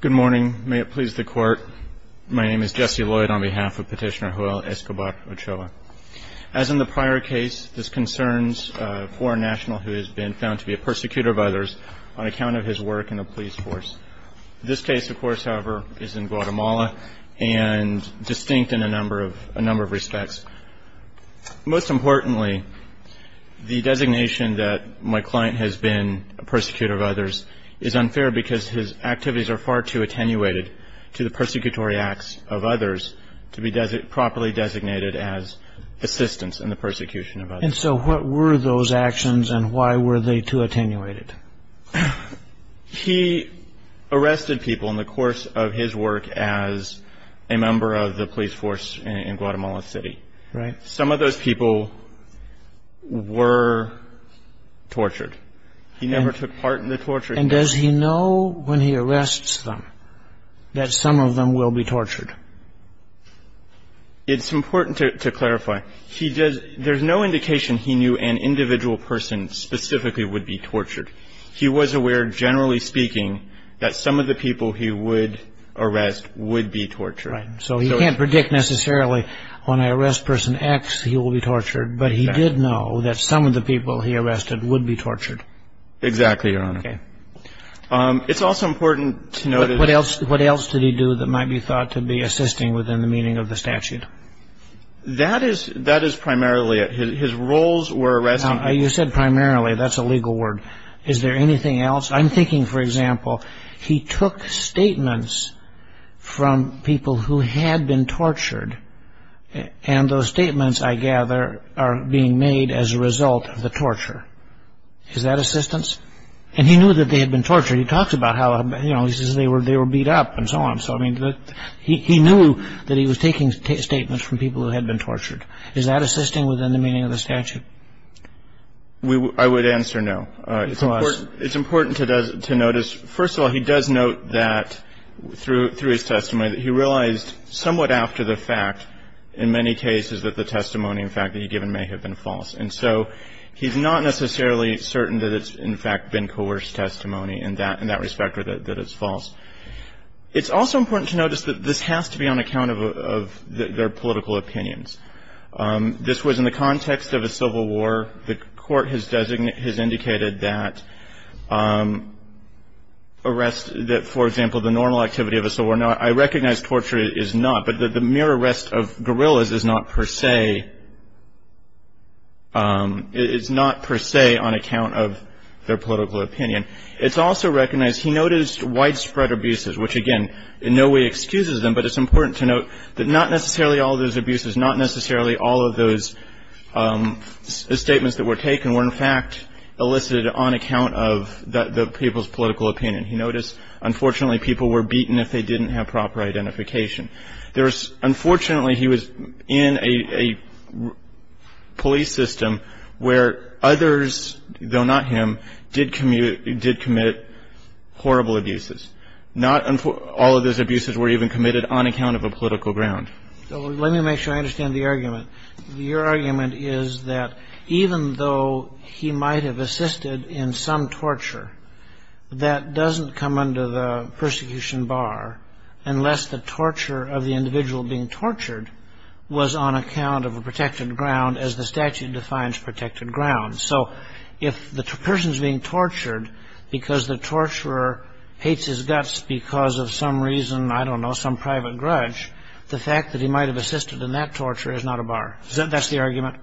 Good morning, may it please the Court. My name is Jesse Lloyd on behalf of Petitioner Joel Escobar Ochoa. As in the prior case, this concerns a foreign national who has been found to be a persecutor of others on account of his work in the police force. This case, of course, however, is in Guatemala and distinct in a number of respects. Most importantly, the designation that his activities are far too attenuated to the persecutory acts of others to be properly designated as assistants in the persecution of others. And so what were those actions and why were they too attenuated? He arrested people in the course of his work as a member of the police force in Guatemala City. Some of those people were tortured. He never took part in the torture. And does he know when he arrests them that some of them will be tortured? It's important to clarify. There's no indication he knew an individual person specifically would be tortured. He was aware, generally speaking, that some of the people he would arrest would be tortured. So he can't predict necessarily when I arrest person X he will be tortured, but he did know that some of the people he arrested would be tortured. Exactly, Your Honor. Okay. It's also important to note that What else did he do that might be thought to be assisting within the meaning of the statute? That is primarily it. His roles were arresting You said primarily. That's a legal word. Is there anything else? I'm thinking, for example, he took statements from people who had been tortured, and those statements, I gather, are being made as a result of the torture. Is that assistance? And he knew that they had been tortured. He talked about how, you know, he says they were beat up and so on. So, I mean, he knew that he was taking statements from people who had been tortured. Is that assisting within the meaning of the statute? I would answer no. It's important to notice, first of all, he does note that through his testimony that he realized somewhat after the fact, in many cases, that the testimony, in fact, that he'd given may have been false. And so he's not necessarily certain that it's, in fact, been coerced testimony in that respect or that it's false. It's also important to notice that this has to be on account of their political opinions. This was in the context of a civil war. The Court has indicated that arrest, that, for example, the normal activity of a civil war, I recognize torture is not, but the mere arrest of guerrillas is not per se on account of their political opinion. It's also recognized, he noticed widespread abuses, which, again, in no way excuses them, but it's important to note that not necessarily all those abuses, not necessarily all of those statements that were taken were, in fact, elicited on account of the people's political opinion. He noticed, unfortunately, people were beaten if they didn't have proper identification. Unfortunately, he was in a police system where others, though not him, did commit horrible abuses. Not all of those abuses were even committed on account of a political ground. So let me make sure I understand the argument. Your argument is that even though he might have assisted in some torture, that doesn't come under the persecution bar unless the torture of the individual being tortured was on account of a protected ground, as the statute defines protected ground. So if the person's being tortured because the torturer hates his guts because of some reason, I don't know, some private grudge, the fact that he might have assisted in that torture is not a bar. That's the argument?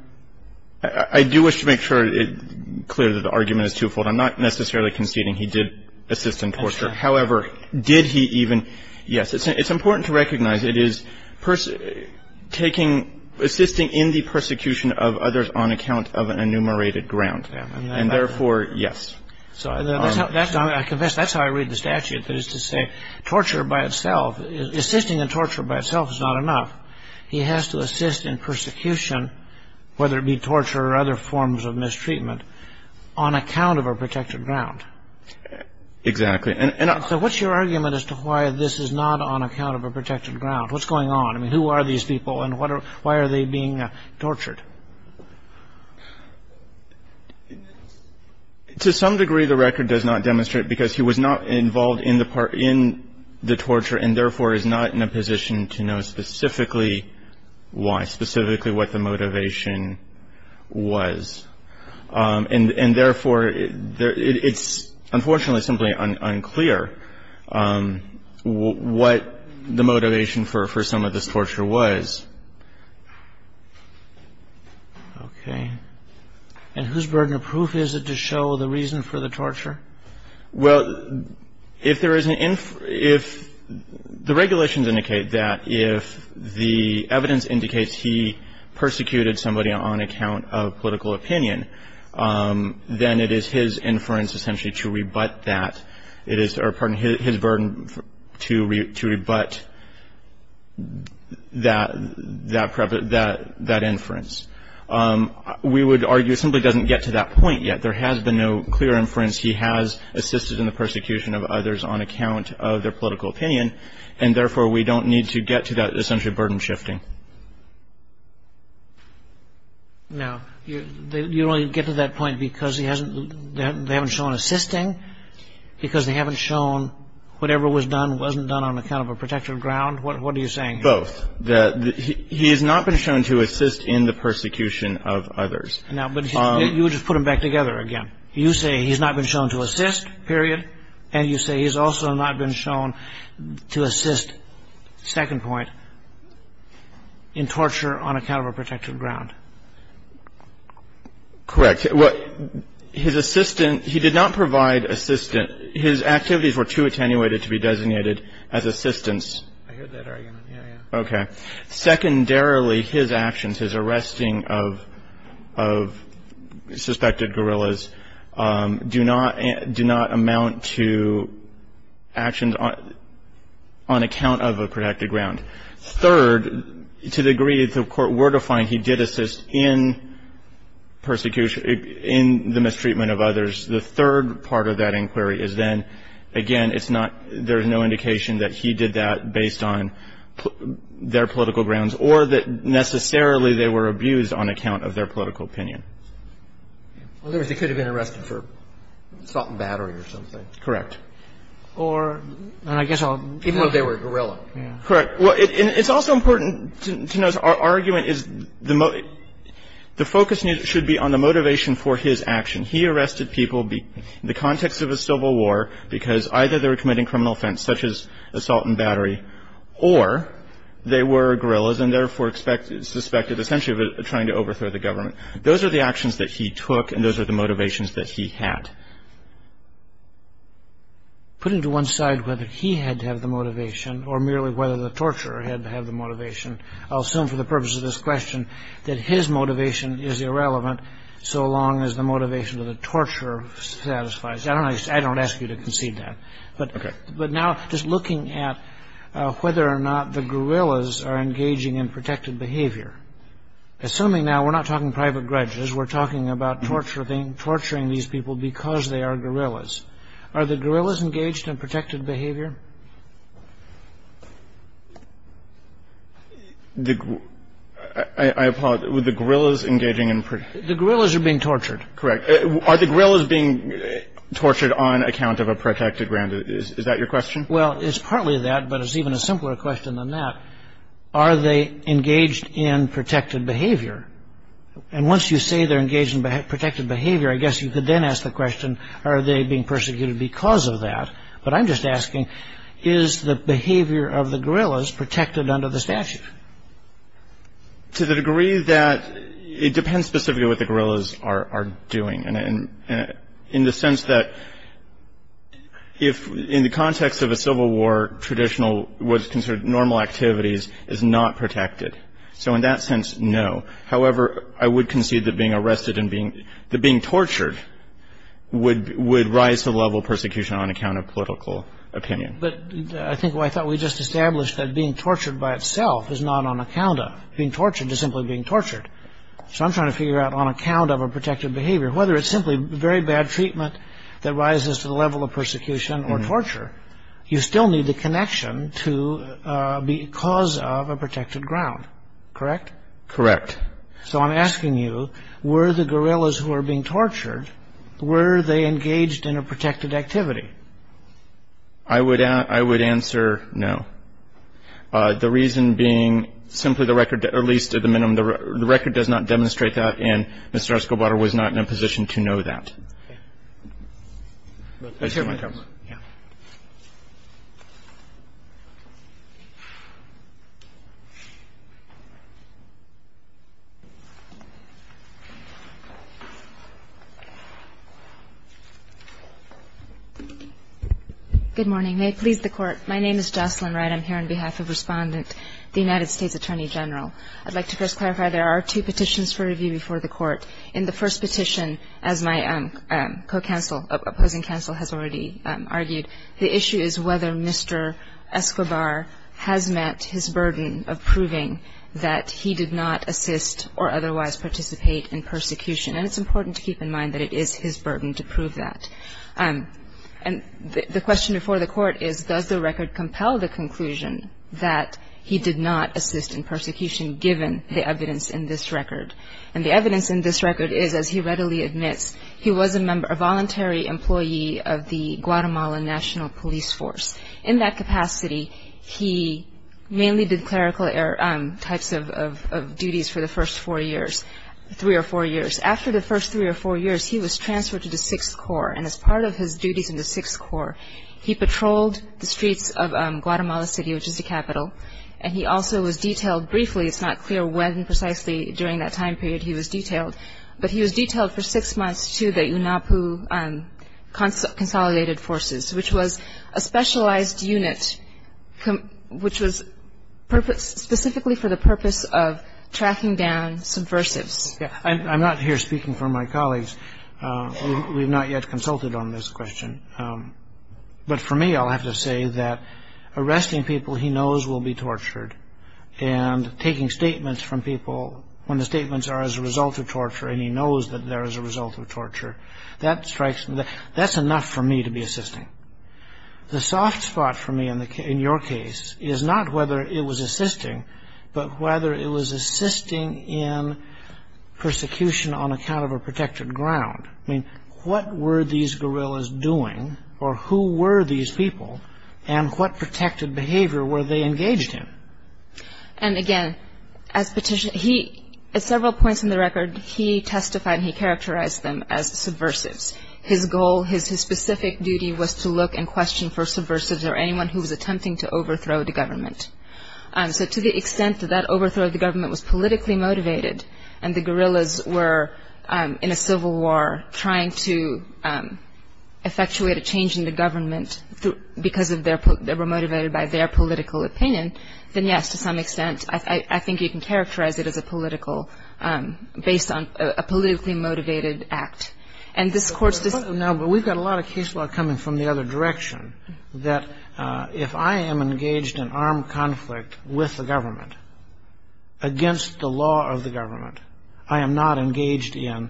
I do wish to make sure it's clear that the argument is twofold. I'm not necessarily conceding he did assist in torture. However, did he even? Yes. It's important to recognize it is assisting in the persecution of others on account of an enumerated ground. And therefore, yes. I confess that's how I read the statute. That is to say, torture by itself, assisting in torture by itself is not enough. He has to assist in persecution, whether it be torture or other forms of mistreatment, on account of a protected ground. Exactly. So what's your argument as to why this is not on account of a protected ground? What's going on? I mean, who are these people and why are they being tortured? To some degree, the record does not demonstrate because he was not involved in the torture and therefore is not in a position to know specifically why, specifically what the motivation was. And therefore, it's unfortunately simply unclear what the motivation for some of this torture was. Okay. And whose burden of proof is it to show the reason for the torture? Well, if there is an – if the regulations indicate that if the evidence indicates he persecuted somebody on account of political opinion, then it is his inference essentially to rebut that. It is – or, pardon me, his burden to rebut that inference. We would argue it simply doesn't get to that point yet. There has been no clear inference he has assisted in the persecution of others on account of their political opinion. And therefore, we don't need to get to that essentially burden shifting. No. You only get to that point because he hasn't – they haven't shown assisting, because they haven't shown whatever was done wasn't done on account of a protective ground. What are you saying here? Both. That he has not been shown to assist in the persecution of others. Now, but you would just put them back together again. You say he's not been shown to assist, period, and you say he's also not been shown to assist. Second point, in torture on account of a protective ground. Correct. His assistant – he did not provide assistant. His activities were too attenuated to be designated as assistants. I heard that argument. Yeah, yeah. Okay. Third, to the degree that the Court were to find he did assist in persecution – in the mistreatment of others, the third part of that inquiry is then, again, it's not – there's no indication that he did that based on their political grounds or that necessarily they were abused on account of their political opinion. In other words, they could have been arrested for assault and battery or something. Correct. Or – and I guess I'll – Even if they were guerrilla. Correct. Well, it's also important to note our argument is the focus should be on the motivation for his action. He arrested people in the context of a civil war because either they were committing criminal offense such as assault and battery or they were guerrillas and therefore suspected essentially of trying to overthrow the government. Those are the actions that he took and those are the motivations that he had. Putting to one side whether he had to have the motivation or merely whether the torturer had to have the motivation, I'll assume for the purpose of this question that his motivation is irrelevant so long as the motivation of the torturer satisfies. I don't ask you to concede that. Okay. But now just looking at whether or not the guerrillas are engaging in protected behavior, assuming now we're not talking private grudges, we're talking about torturing these people because they are guerrillas, are the guerrillas engaged in protected behavior? The – I apologize. Were the guerrillas engaging in – The guerrillas are being tortured. Correct. Are the guerrillas being tortured on account of a protected ground? Is that your question? Well, it's partly that but it's even a simpler question than that. Are they engaged in protected behavior? And once you say they're engaged in protected behavior, I guess you could then ask the question are they being persecuted because of that? But I'm just asking is the behavior of the guerrillas protected under the statute? To the degree that it depends specifically what the guerrillas are doing. And in the sense that if – in the context of a civil war, traditional what is considered normal activities is not protected. So in that sense, no. However, I would concede that being arrested and being – that being tortured would rise to the level of persecution on account of political opinion. But I think what I thought we just established that being tortured by itself is not on account of. Being tortured is simply being tortured. So I'm trying to figure out on account of a protected behavior, whether it's simply very bad treatment that rises to the level of persecution or torture, you still need the connection to because of a protected ground. Correct? Correct. So I'm asking you, were the guerrillas who were being tortured, were they engaged in a protected activity? I would answer no. The reason being simply the record, or at least to the minimum, the record does not demonstrate that and Mr. Arscobar was not in a position to know that. Let's hear from the Court. Yeah. Good morning. May it please the Court. My name is Jocelyn Wright. I'm here on behalf of Respondent, the United States Attorney General. I'd like to first clarify there are two petitions for review before the Court. In the first petition, as my co-counsel, opposing counsel, has already argued, the issue is whether Mr. Arscobar has met his burden of proving that he did not assist or otherwise participate in persecution. And it's important to keep in mind that it is his burden to prove that. And the question before the Court is, does the record compel the conclusion that he did not assist in persecution given the evidence in this record? And the evidence in this record is, as he readily admits, he was a voluntary employee of the Guatemala National Police Force. In that capacity, he mainly did clerical types of duties for the first four years, three or four years. After the first three or four years, he was transferred to the Sixth Corps. And as part of his duties in the Sixth Corps, he patrolled the streets of Guatemala City, which is the capital, and he also was detailed briefly. It's not clear when precisely during that time period he was detailed. But he was detailed for six months to the UNAPU Consolidated Forces, which was a specialized unit which was specifically for the purpose of tracking down subversives. I'm not here speaking for my colleagues. We have not yet consulted on this question. But for me, I'll have to say that arresting people he knows will be tortured and taking statements from people when the statements are as a result of torture and he knows that they're as a result of torture, that's enough for me to be assisting. The soft spot for me in your case is not whether it was assisting, but whether it was assisting in persecution on account of a protected ground. I mean, what were these guerrillas doing, or who were these people, and what protected behavior were they engaged in? And again, at several points in the record, he testified and he characterized them as subversives. His goal, his specific duty was to look and question for subversives or anyone who was attempting to overthrow the government. So to the extent that that overthrow of the government was politically motivated and the guerrillas were in a civil war trying to effectuate a change in the government because they were motivated by their political opinion, then yes, to some extent, I think you can characterize it as a politically motivated act. But we've got a lot of case law coming from the other direction, that if I am engaged in armed conflict with the government, against the law of the government, I am not engaged in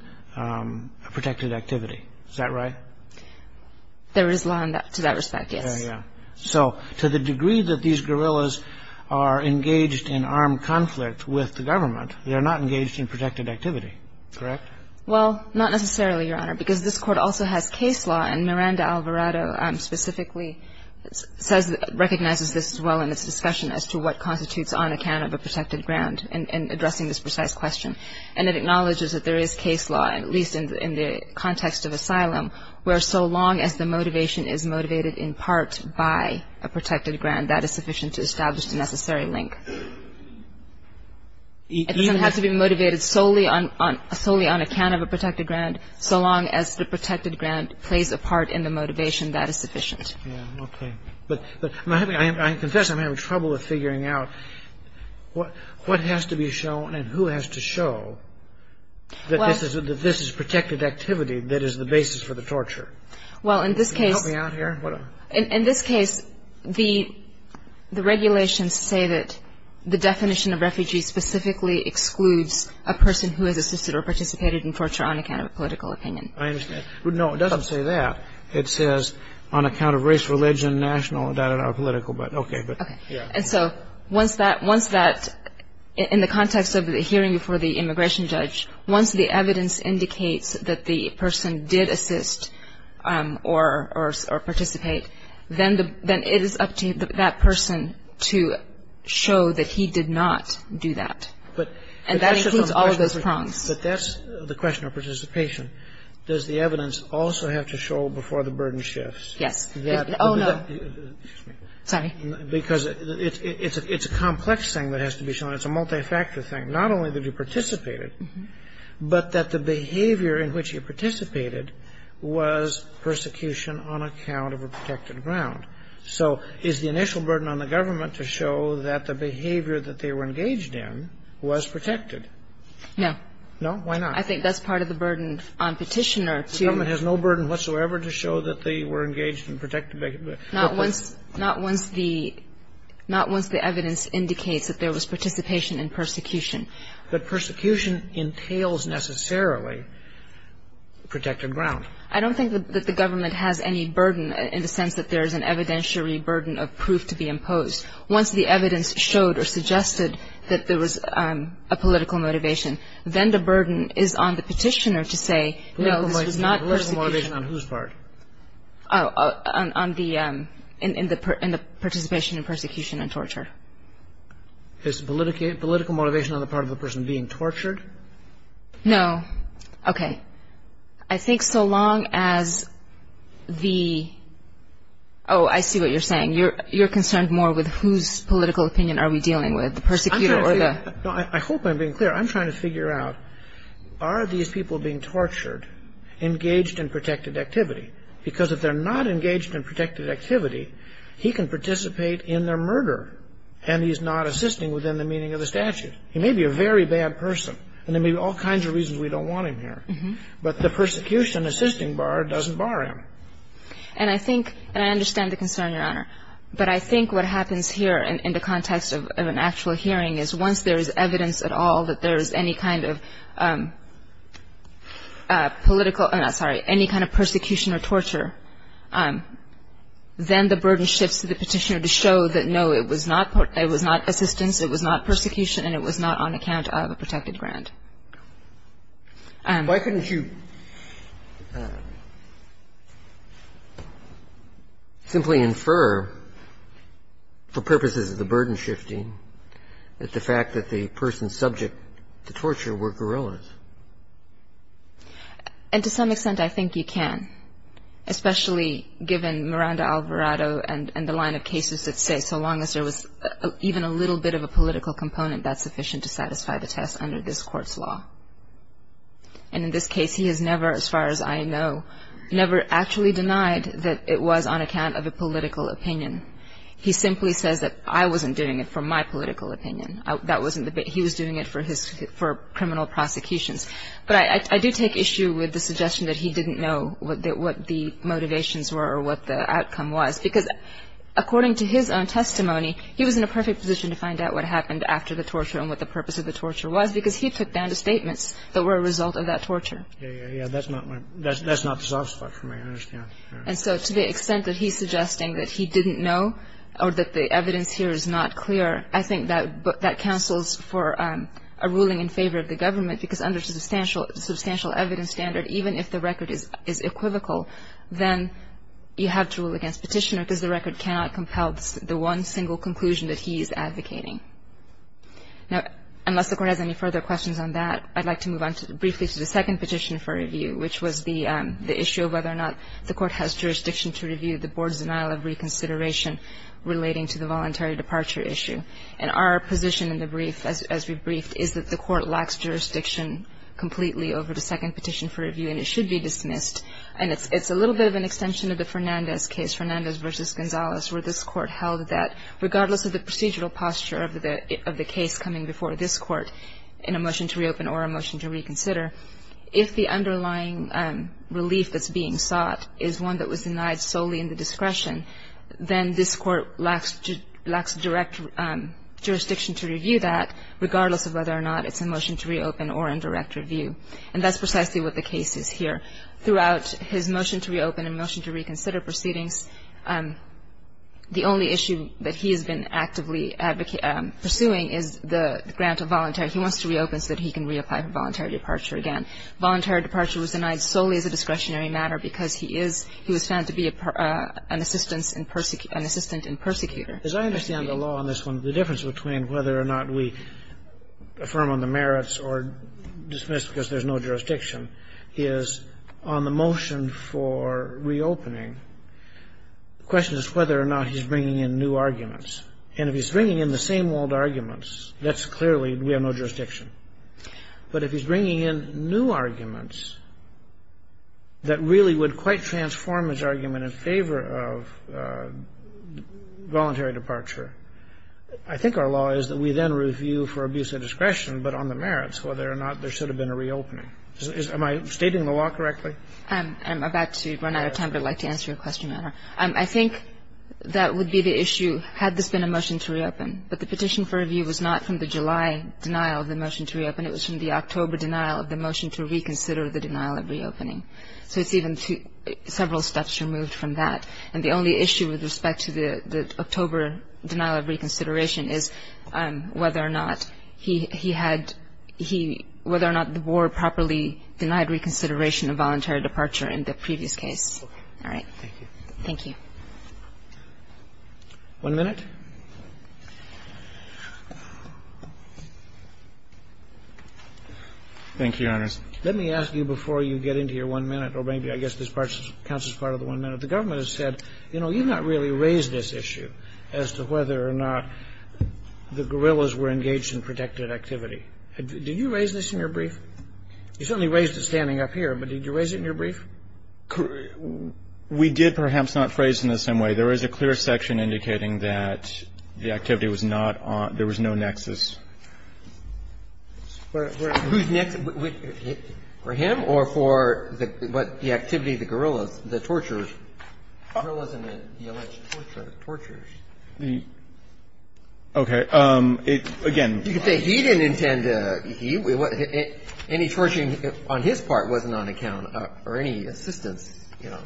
protected activity. Is that right? There is law to that respect, yes. Yeah, yeah. So to the degree that these guerrillas are engaged in armed conflict with the government, they are not engaged in protected activity, correct? Well, not necessarily, Your Honor, because this Court also has case law, and Miranda Alvarado specifically recognizes this as well in its discussion as to what constitutes on account of a protected ground in addressing this precise question. And it acknowledges that there is case law, at least in the context of asylum, where so long as the motivation is motivated in part by a protected ground, that is sufficient to establish the necessary link. It doesn't have to be motivated solely on account of a protected ground, so long as the protected ground plays a part in the motivation, that is sufficient. Yeah, okay. But I confess I'm having trouble with figuring out what has to be shown and who has to show that this is protected activity that is the basis for the torture. Can you help me out here? In this case, the regulations say that the definition of refugee specifically excludes a person who has assisted or participated in torture on account of a political opinion. I understand. No, it doesn't say that. It says on account of race, religion, national, political, but okay. And so once that, in the context of the hearing before the immigration judge, once the evidence indicates that the person did assist or participate, then it is up to that person to show that he did not do that. And that includes all of those prongs. But that's the question of participation. Does the evidence also have to show before the burden shifts? Yes. Oh, no. Sorry. Because it's a complex thing that has to be shown. It's a multi-factor thing, not only that you participated, but that the behavior in which you participated was persecution on account of a protected ground. So is the initial burden on the government to show that the behavior that they were engaged in was protected? No. No? Why not? I think that's part of the burden on Petitioner to ---- The government has no burden whatsoever to show that they were engaged in protected behavior. Not once the evidence indicates that there was participation in persecution. But persecution entails necessarily protected ground. I don't think that the government has any burden in the sense that there is an evidentiary burden of proof to be imposed. Once the evidence showed or suggested that there was a political motivation, then the burden is on the Petitioner to say, no, this was not persecution. Political motivation on whose part? On the ---- in the participation in persecution and torture. Is political motivation on the part of the person being tortured? No. Okay. I think so long as the ---- oh, I see what you're saying. You're concerned more with whose political opinion are we dealing with, the persecutor or the ---- I hope I'm being clear. I'm trying to figure out, are these people being tortured engaged in protected activity? Because if they're not engaged in protected activity, he can participate in their murder and he's not assisting within the meaning of the statute. He may be a very bad person and there may be all kinds of reasons we don't want him here. But the persecution assisting bar doesn't bar him. And I think ---- and I understand the concern, Your Honor. But I think what happens here in the context of an actual hearing is once there is evidence at all that there is any kind of political ---- I'm sorry, any kind of persecution or torture, then the burden shifts to the petitioner to show that, no, it was not assistance, it was not persecution, and it was not on account of a protected grant. Why couldn't you simply infer, for purposes of the burden shifting, that the fact that the person subject to torture were guerrillas? And to some extent, I think you can, especially given Miranda Alvarado and the line of cases that say so long as there was even a little bit of a political component, that's sufficient to satisfy the test under this court's statute. And in this case, he has never, as far as I know, never actually denied that it was on account of a political opinion. He simply says that I wasn't doing it for my political opinion. That wasn't the ---- he was doing it for his ---- for criminal prosecutions. But I do take issue with the suggestion that he didn't know what the motivations were or what the outcome was, because according to his own testimony, he was in a perfect position to find out what happened after the torture and what the purpose of the torture was, because he took down the statements that were a result of that torture. Yeah, yeah, yeah. That's not the soft spot for me. I understand. And so to the extent that he's suggesting that he didn't know or that the evidence here is not clear, I think that cancels for a ruling in favor of the government, because under the substantial evidence standard, even if the record is equivocal, then you have to rule against Petitioner, because the record cannot compel the one single conclusion that he is advocating. Now, unless the Court has any further questions on that, I'd like to move on briefly to the second petition for review, which was the issue of whether or not the Court has jurisdiction to review the Board's denial of reconsideration relating to the voluntary departure issue. And our position in the brief, as we briefed, is that the Court lacks jurisdiction completely over the second petition for review, and it should be dismissed. And it's a little bit of an extension of the Fernandez case, Fernandez v. Gonzalez, where this Court held that regardless of the procedural posture of the case coming before this Court in a motion to reopen or a motion to reconsider, if the underlying relief that's being sought is one that was denied solely in the discretion, then this Court lacks direct jurisdiction to review that, regardless of whether or not it's a motion to reopen or in direct review. And that's precisely what the case is here. Throughout his motion to reopen and motion to reconsider proceedings, the only issue that he has been actively pursuing is the grant of voluntary. He wants to reopen so that he can reapply for voluntary departure again. Voluntary departure was denied solely as a discretionary matter because he is, he was found to be an assistant in persecutor. As I understand the law on this one, the difference between whether or not we affirm on the merits or dismiss because there's no jurisdiction is on the motion for reopening, the question is whether or not he's bringing in new arguments. And if he's bringing in the same old arguments, that's clearly we have no jurisdiction. But if he's bringing in new arguments that really would quite transform his argument in favor of voluntary departure, I think our law is that we then review for abuse of discretion, but on the merits, whether or not there should have been a reopening. Am I stating the law correctly? I'm about to run out of time, but I'd like to answer your question, Your Honor. I think that would be the issue had this been a motion to reopen. But the petition for review was not from the July denial of the motion to reopen. It was from the October denial of the motion to reconsider the denial of reopening. So it's even several steps removed from that. And the only issue with respect to the October denial of reconsideration is whether or not he had he whether or not the board properly denied reconsideration of voluntary departure in the previous case. All right. Thank you. One minute. Thank you, Your Honor. Let me ask you before you get into your one minute, or maybe I guess this part counts as part of the one minute. But the government has said, you know, you've not really raised this issue as to whether or not the guerrillas were engaged in protected activity. Did you raise this in your brief? You certainly raised it standing up here, but did you raise it in your brief? We did perhaps not phrase it in the same way. There is a clear section indicating that the activity was not on – there was no nexus. Whose nexus? For him or for the activity of the guerrillas, the torturers? Guerrillas and the alleged torturers. Okay. Again. You could say he didn't intend to – any torturing on his part wasn't on account or any assistance, you know,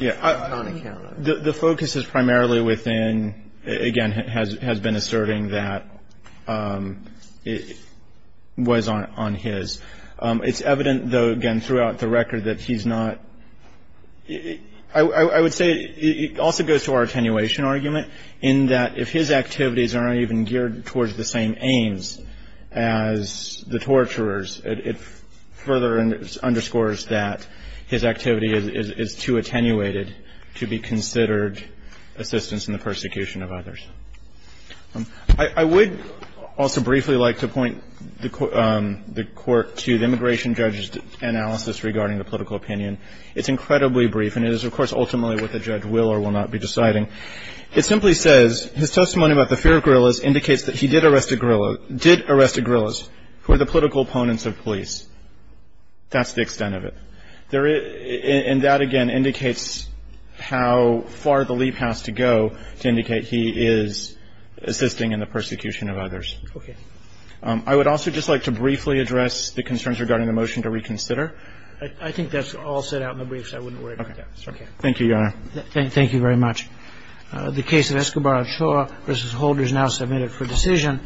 wasn't on account. The focus is primarily within – again, has been asserting that it was on his. It's evident, though, again, throughout the record that he's not – I would say it also goes to our attenuation argument in that if his activities are not even geared towards the same aims as the torturers, it further underscores that his activity is too attenuated to be considered assistance in the persecution of others. I would also briefly like to point the court to the immigration judge's analysis regarding the political opinion. It's incredibly brief, and it is, of course, ultimately what the judge will or will not be deciding. It simply says his testimony about the fear of guerrillas indicates that he did arrest a guerrilla – that's the extent of it. And that, again, indicates how far the leap has to go to indicate he is assisting in the persecution of others. Okay. I would also just like to briefly address the concerns regarding the motion to reconsider. I think that's all set out in the brief, so I wouldn't worry about that. Okay. Thank you, Your Honor. Thank you very much. The case of Escobar-Ochoa v. Holder is now submitted for decision.